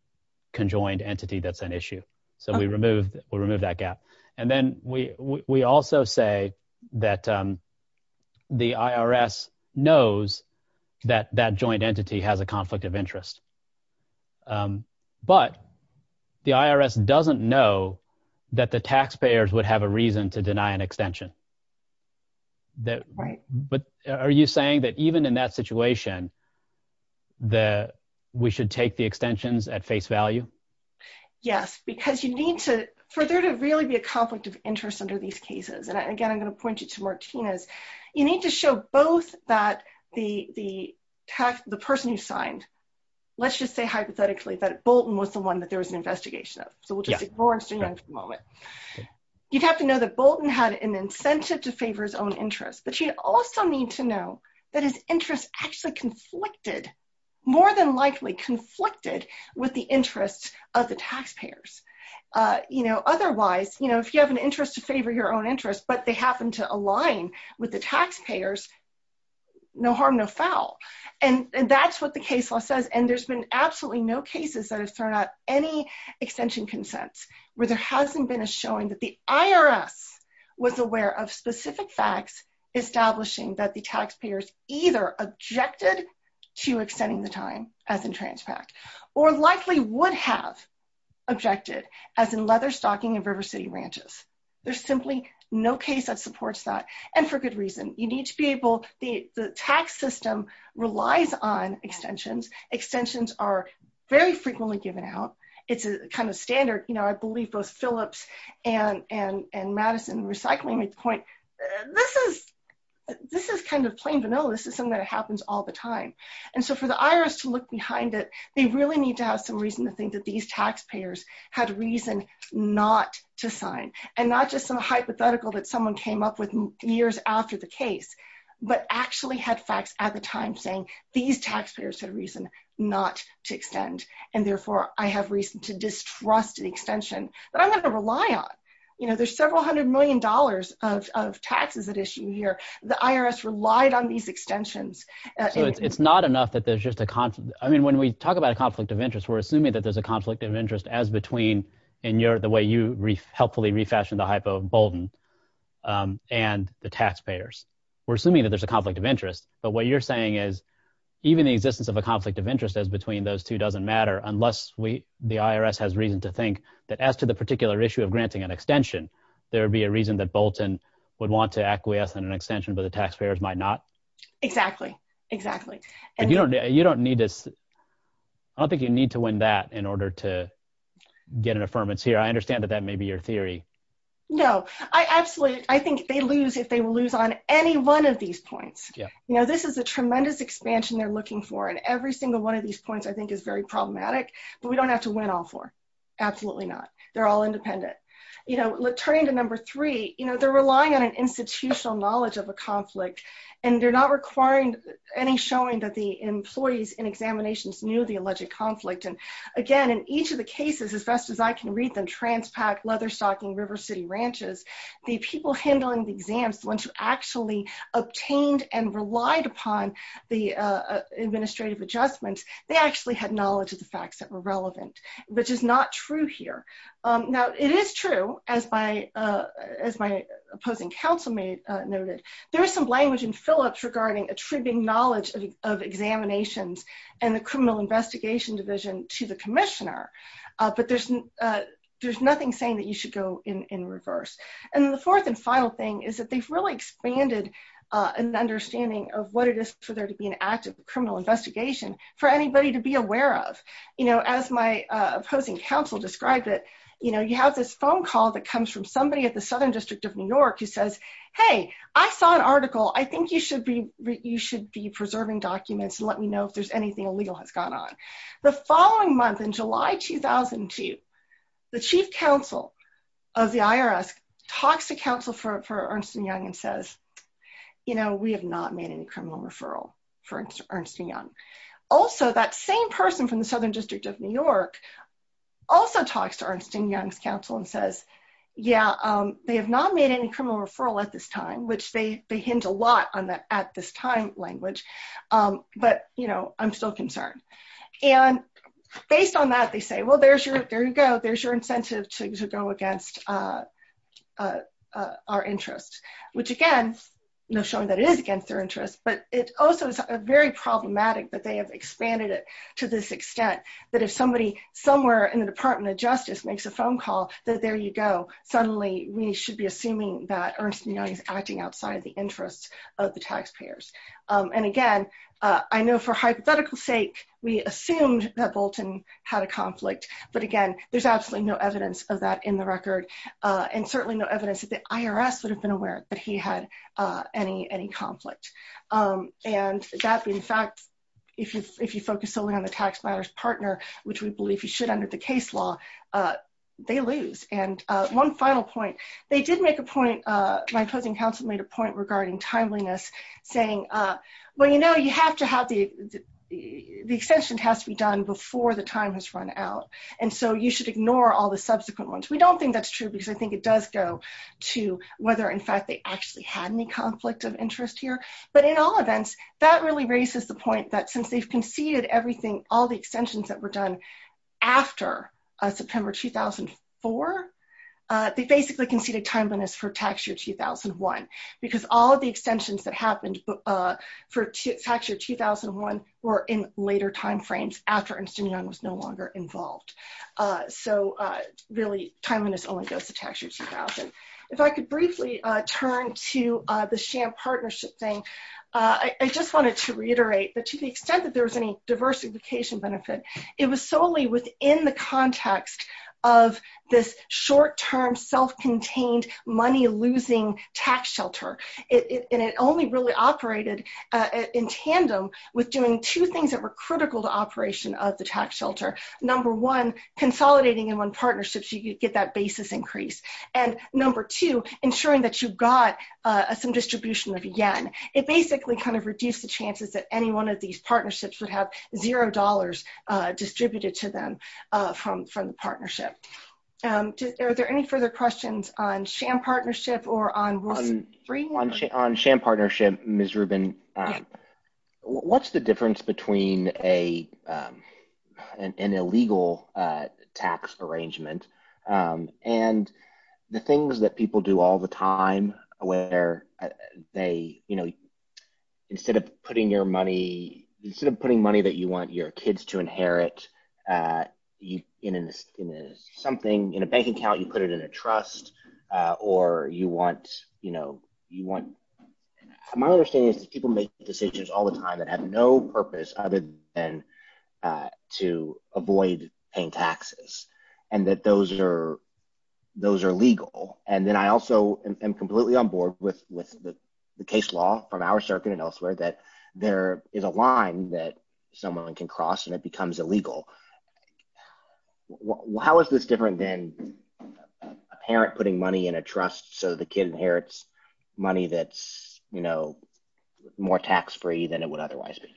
That's an issue. So we remove will remove that gap and then we we also say that The IRS knows that that joint entity has a conflict of interest. But the IRS doesn't know that the taxpayers would have a reason to deny an extension That right. But are you saying that even in that situation. The we should take the extensions at face value. Yes, because you need to further to really be a conflict of interest under these cases. And again, I'm going to point you to Martinez. You need to show both that the, the, the person who signed. Let's just say, hypothetically, that Bolton was the one that there was an investigation of. So we'll just ignore it for the moment. You'd have to know that Bolton had an incentive to favor his own interest, but you also need to know that his interest actually conflicted. More than likely conflicted with the interests of the taxpayers, you know, otherwise, you know, if you have an interest to favor your own interest, but they happen to align with the taxpayers. No harm, no foul. And that's what the case law says. And there's been absolutely no cases that have thrown out any extension consents where there hasn't been a showing that the IRS Was aware of specific facts establishing that the taxpayers either objected to extending the time as in Transpact or likely would have Objected as in leather stocking and River City ranches. There's simply no case that supports that. And for good reason. You need to be able, the tax system relies on extensions. Extensions are Very frequently given out. It's a kind of standard, you know, I believe both Phillips and Madison recycling at the point, this is This is kind of plain vanilla. This is something that happens all the time. And so for the IRS to look behind it. They really need to have some reason to think that these taxpayers had reason not to sign and not just some hypothetical that someone came up with Years after the case, but actually had facts at the time saying these taxpayers had reason not to extend and therefore I have reason to distrust the extension that I'm going to rely on You know, there's several hundred million dollars of taxes that issue here, the IRS relied on these extensions. It's not enough that there's just a conflict. I mean, when we talk about a conflict of interest. We're assuming that there's a conflict of interest as between and you're the way you read helpfully refashion the hypo Bolton. And the taxpayers were assuming that there's a conflict of interest. But what you're saying is Even the existence of a conflict of interest as between those two doesn't matter unless we the IRS has reason to think that as to the particular issue of granting an extension, there'll be a reason that Bolton would want to acquiesce in an extension, but the taxpayers might not Exactly, exactly. And you don't, you don't need this. I think you need to win that in order to get an affirmance here. I understand that that may be your theory. No, I absolutely. I think they lose if they will lose on any one of these points. Yeah, you know, this is a tremendous expansion. They're looking for and every single one of these points, I think, is very problematic, but we don't have to win all for Absolutely not. They're all independent, you know, let's turn to number three, you know, they're relying on an institutional knowledge of a conflict. And they're not requiring any showing that the employees in examinations knew the alleged conflict and Again, in each of the cases as best as I can read them Transpac leather stocking River City ranches. The people handling the exams, the ones who actually obtained and relied upon the administrative adjustments, they actually had knowledge of the facts that were relevant, which is not true here. Now, it is true as my as my opposing counsel made noted, there's some language and Phillips regarding attributing knowledge of examinations and the criminal investigation division to the commissioner, but there's There's nothing saying that you should go in reverse. And the fourth and final thing is that they've really expanded And understanding of what it is for there to be an active criminal investigation for anybody to be aware of, you know, as my Opposing counsel described it, you know, you have this phone call that comes from somebody at the Southern District of New York, who says, Hey, I saw an article. I think you should be You should be preserving documents and let me know if there's anything illegal has gone on the following month in July 2002 The chief counsel of the IRS talks to counsel for Ernst & Young and says, you know, we have not made any criminal referral for Ernst & Young Also that same person from the Southern District of New York also talks to Ernst & Young's counsel and says, yeah, they have not made any criminal referral at this time, which they they hint a lot on that at this time language. But, you know, I'm still concerned. And based on that, they say, well, there's your, there you go. There's your incentive to go against Our interest, which again, you know, showing that is against their interest, but it also is a very problematic, but they have expanded it To this extent that if somebody somewhere in the Department of Justice makes a phone call that there you go. Suddenly, we should be assuming that Ernst & Young is acting outside the interest of the taxpayers. And again, I know for hypothetical sake, we assumed that Bolton had a conflict. But again, there's absolutely no evidence of that in the record. And certainly no evidence that the IRS would have been aware that he had any conflict. And that, in fact, if you focus solely on the tax matters partner, which we believe you should under the case law. They lose. And one final point. They did make a point, my opposing counsel made a point regarding timeliness saying, well, you know, you have to have the The extension has to be done before the time has run out. And so you should ignore all the subsequent ones. We don't think that's true because I think it does go To whether in fact they actually had any conflict of interest here, but in all events that really raises the point that since they've conceded everything all the extensions that were done after September 2004 They basically conceded timeliness for tax year 2001 because all the extensions that happened for tax year 2001 were in later time frames after Ernst & Young was no longer involved. So really timeliness only goes to tax year 2000. If I could briefly turn to the sham partnership thing. I just wanted to reiterate that to the extent that there was any diversification benefit. It was solely within the context of this short term self contained money losing tax shelter. And it only really operated in tandem with doing two things that were critical to operation of the tax shelter. Number one, consolidating in one partnerships, you get that basis increase. And number two, ensuring that you've got some distribution of yen. It basically kind of reduce the chances that any one of these partnerships would have $0 distributed to them from the partnership. Are there any further questions on sham partnership or on On sham partnership, Ms. Rubin. What's the difference between a An illegal tax arrangement and the things that people do all the time where they, you know, instead of putting your money instead of putting money that you want your kids to inherit In something, in a bank account, you put it in a trust or you want, you know, you want my understanding is that people make decisions all the time that have no purpose other than To avoid paying taxes and that those are those are legal. And then I also am completely on board with with the case law from our circuit and elsewhere that there is a line that someone can cross and it becomes illegal. How is this different than A parent putting money in a trust. So the kid inherits money that's, you know, more tax free than it would otherwise be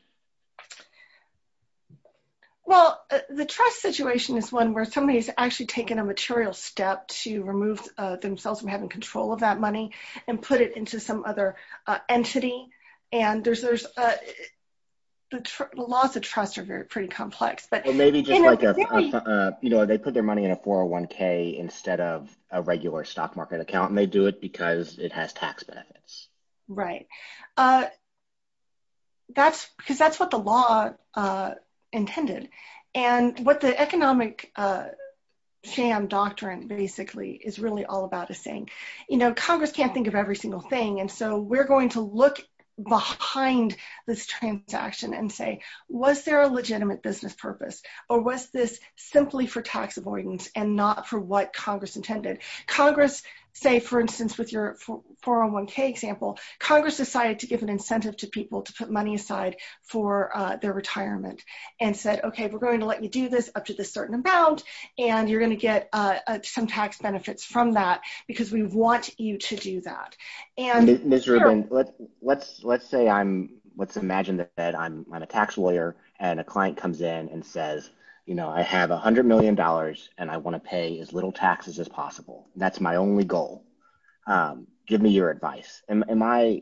Well, the trust situation is one where somebody is actually taking a material step to remove themselves from having control of that money and put it into some other entity and there's there's Lots of trust are very pretty complex, but Maybe just like You know, they put their money in a 401k instead of a regular stock market account and they do it because it has tax benefits. Right. That's because that's what the law intended and what the economic sham doctrine basically is really all about is saying, you know, Congress can't think of every single thing. And so we're going to look behind this transaction and say, was there a legitimate business purpose or was this simply for tax avoidance and not for what Congress intended Congress say, for instance, with your 401k example Congress decided to give an incentive to people to put money aside for their retirement and said, okay, we're going to let you do this up to this certain amount and you're going to get some tax benefits from that because we want you to do that and Let's, let's say I'm, let's imagine that I'm a tax lawyer and a client comes in and says, you know, I have $100 million and I want to pay as little taxes as possible. That's my only goal. Give me your advice. Am I,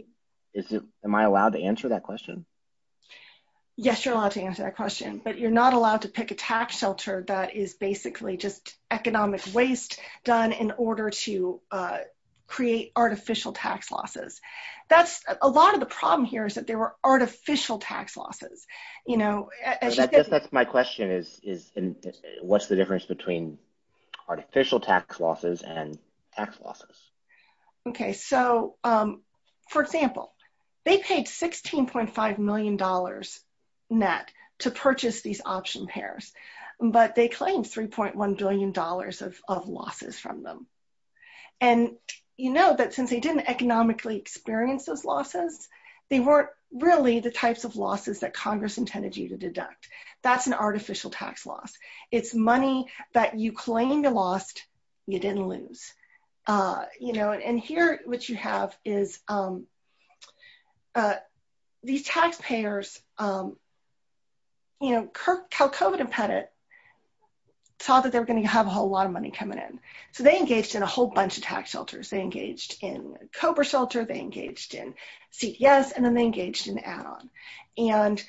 am I allowed to answer that question. Yes, you're allowed to answer that question, but you're not allowed to pick a tax shelter that is basically just economic waste done in order to create artificial tax losses. That's a lot of the problem here is that there were artificial tax losses, you know, That's my question is, is, what's the difference between artificial tax losses and tax losses. Okay, so, um, for example, they paid $16.5 million net to purchase these option pairs, but they claimed $3.1 billion of losses from them. And you know that since they didn't economically experience those losses, they weren't really the types of losses that Congress intended you to deduct. That's an artificial tax loss. It's money that you claim you lost, you didn't lose. You know, and here what you have is These taxpayers. You know, Kirk, Cal COVID and Pettit Saw that they're going to have a whole lot of money coming in. So they engaged in a whole bunch of tax shelters they engaged in Cobra shelter they engaged in CTS and then they engaged in add on and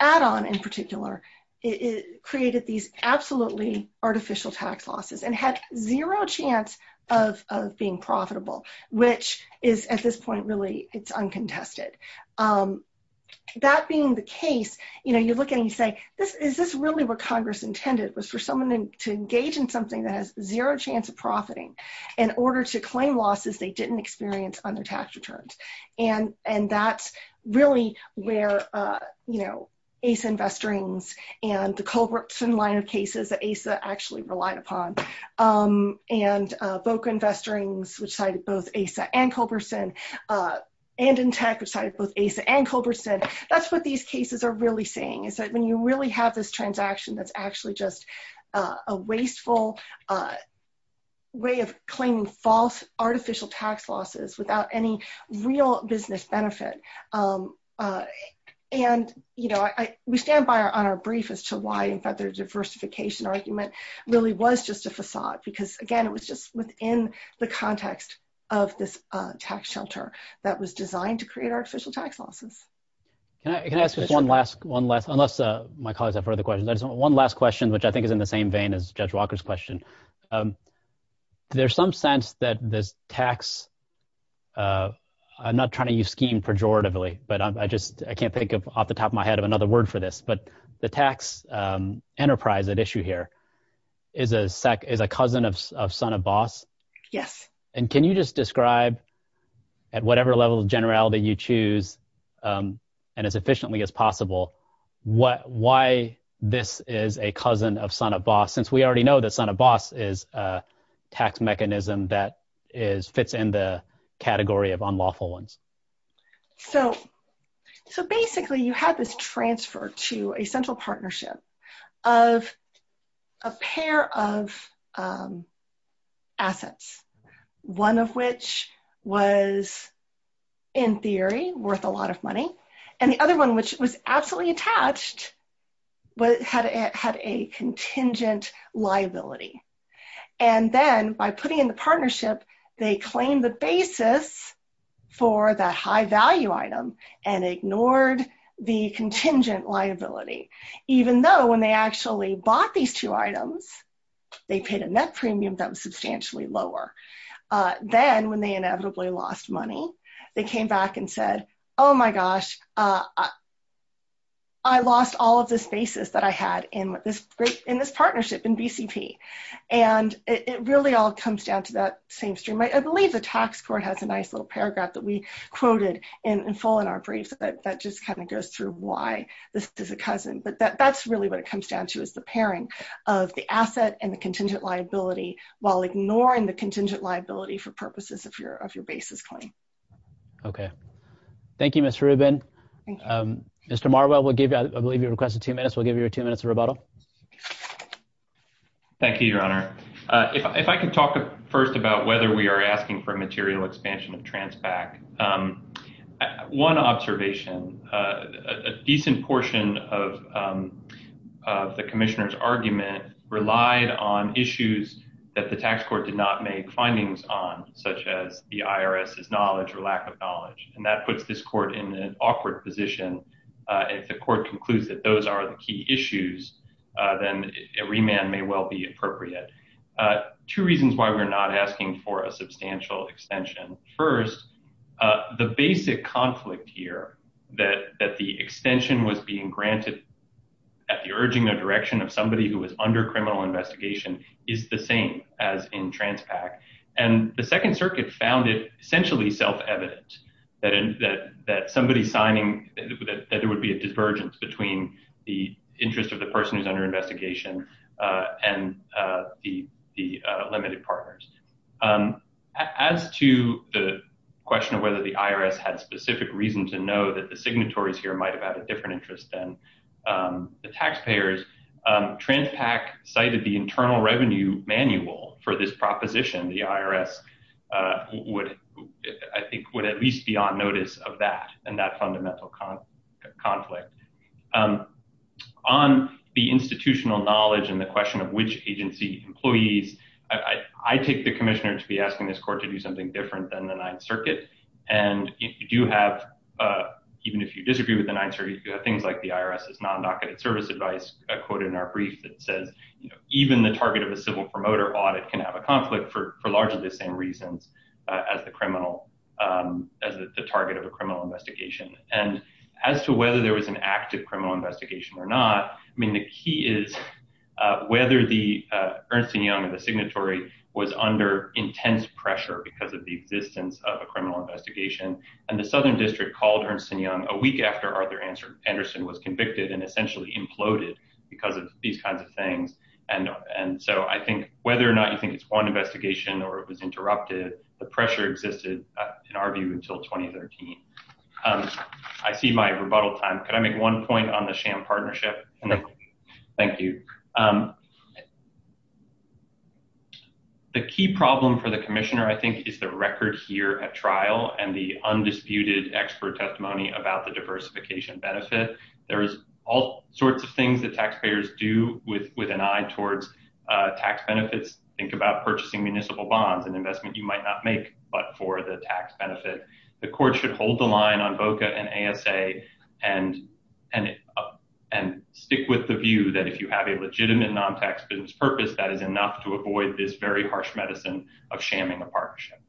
Add on in particular, it created these absolutely artificial tax losses and had zero chance of being profitable, which is at this point, really, it's uncontested. That being the case, you know, you look at me say this. Is this really what Congress intended was for someone to engage in something that has zero chance of profiting. In order to claim losses. They didn't experience on their tax returns and and that's really where, you know, ace investor rings and the culverts and line of cases that Asa actually relied upon And book investor rings, which cited both Asa and Culbertson. And in tech side both Asa and Culbertson. That's what these cases are really saying is that when you really have this transaction that's actually just a wasteful Way of claiming false artificial tax losses without any real business benefit. And, you know, I we stand by our on our brief as to why in fact their diversification argument really was just a facade, because again, it was just within the context of this tax shelter that was designed to create artificial tax losses. Can I can I ask one last one last unless my colleagues have further questions. One last question, which I think is in the same vein as Judge Walker's question. There's some sense that this tax I'm not trying to use scheme pejoratively, but I just, I can't think of off the top of my head of another word for this, but the tax enterprise that issue here is a SEC is a cousin of son of boss. Yes. And can you just describe at whatever level of generality, you choose And as efficiently as possible. What, why this is a cousin of son of boss, since we already know that son of boss is tax mechanism that is fits in the category of unlawful ones. So, so basically you have this transfer to a central partnership of a pair of Assets, one of which was in theory worth a lot of money and the other one, which was absolutely attached, but had it had a contingent liability. And then by putting in the partnership, they claim the basis for the high value item and ignored the contingent liability, even though when they actually bought these two items. They paid a net premium that was substantially lower than when they inevitably lost money. They came back and said, Oh my gosh. I lost all of this basis that I had in this great in this partnership and BCP And it really all comes down to that same stream. I believe the tax court has a nice little paragraph that we quoted in full in our briefs that just kind of goes through why This is a cousin, but that that's really what it comes down to is the pairing of the asset and the contingent liability while ignoring the contingent liability for purposes of your of your basis claim. Okay. Thank you, Mr. Rubin. Mr. Marwell will give you, I believe you requested two minutes. We'll give you two minutes of rebuttal. Thank you, Your Honor. If I can talk first about whether we are asking for material expansion of Transpac One observation, a decent portion of The commissioners argument relied on issues that the tax court did not make findings on such as the IRS is knowledge or lack of knowledge and that puts this court in an awkward position. If the court concludes that those are the key issues, then a remand may well be appropriate. Two reasons why we're not asking for a substantial extension. First, The basic conflict here that that the extension was being granted at the urging or direction of somebody who was under criminal investigation is the same as in Transpac And the Second Circuit found it essentially self evident that somebody signing that it would be a divergence between the interest of the person who's under investigation and the limited partners. As to the question of whether the IRS had specific reason to know that the signatories here might have had a different interest than The taxpayers. Transpac cited the Internal Revenue Manual for this proposition, the IRS would, I think, would at least be on notice of that and that fundamental conflict. On the institutional knowledge and the question of which agency employees. I take the Commissioner to be asking this court to do something different than the Ninth Circuit and you do have Even if you disagree with the Ninth Circuit, things like the IRS is non docketed service advice quoted in our brief that says, you know, even the target of a civil promoter audit can have a conflict for largely the same reasons as the criminal As the target of a criminal investigation and as to whether there was an active criminal investigation or not. I mean, the key is Whether the Ernst & Young and the signatory was under intense pressure because of the existence of a criminal investigation. And the Southern District called Ernst & Young a week after Arthur Anderson was convicted and essentially imploded because of these kinds of things. And so I think whether or not you think it's one investigation or it was interrupted the pressure existed in our view until 2013 I see my rebuttal time. Can I make one point on the sham partnership. Thank you. The key problem for the Commissioner, I think, is the record here at trial and the undisputed expert testimony about the diversification benefit. There's all sorts of things that taxpayers do with with an eye towards tax benefits. Think about purchasing municipal bonds and investment, you might not make but for the tax benefit, the court should hold the line on VOCA and ASA and And stick with the view that if you have a legitimate non tax business purpose that is enough to avoid this very harsh medicine of shaming the partnership.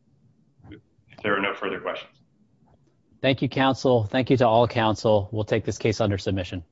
There are no further questions. Thank you, counsel. Thank you to all counsel will take this case under submission.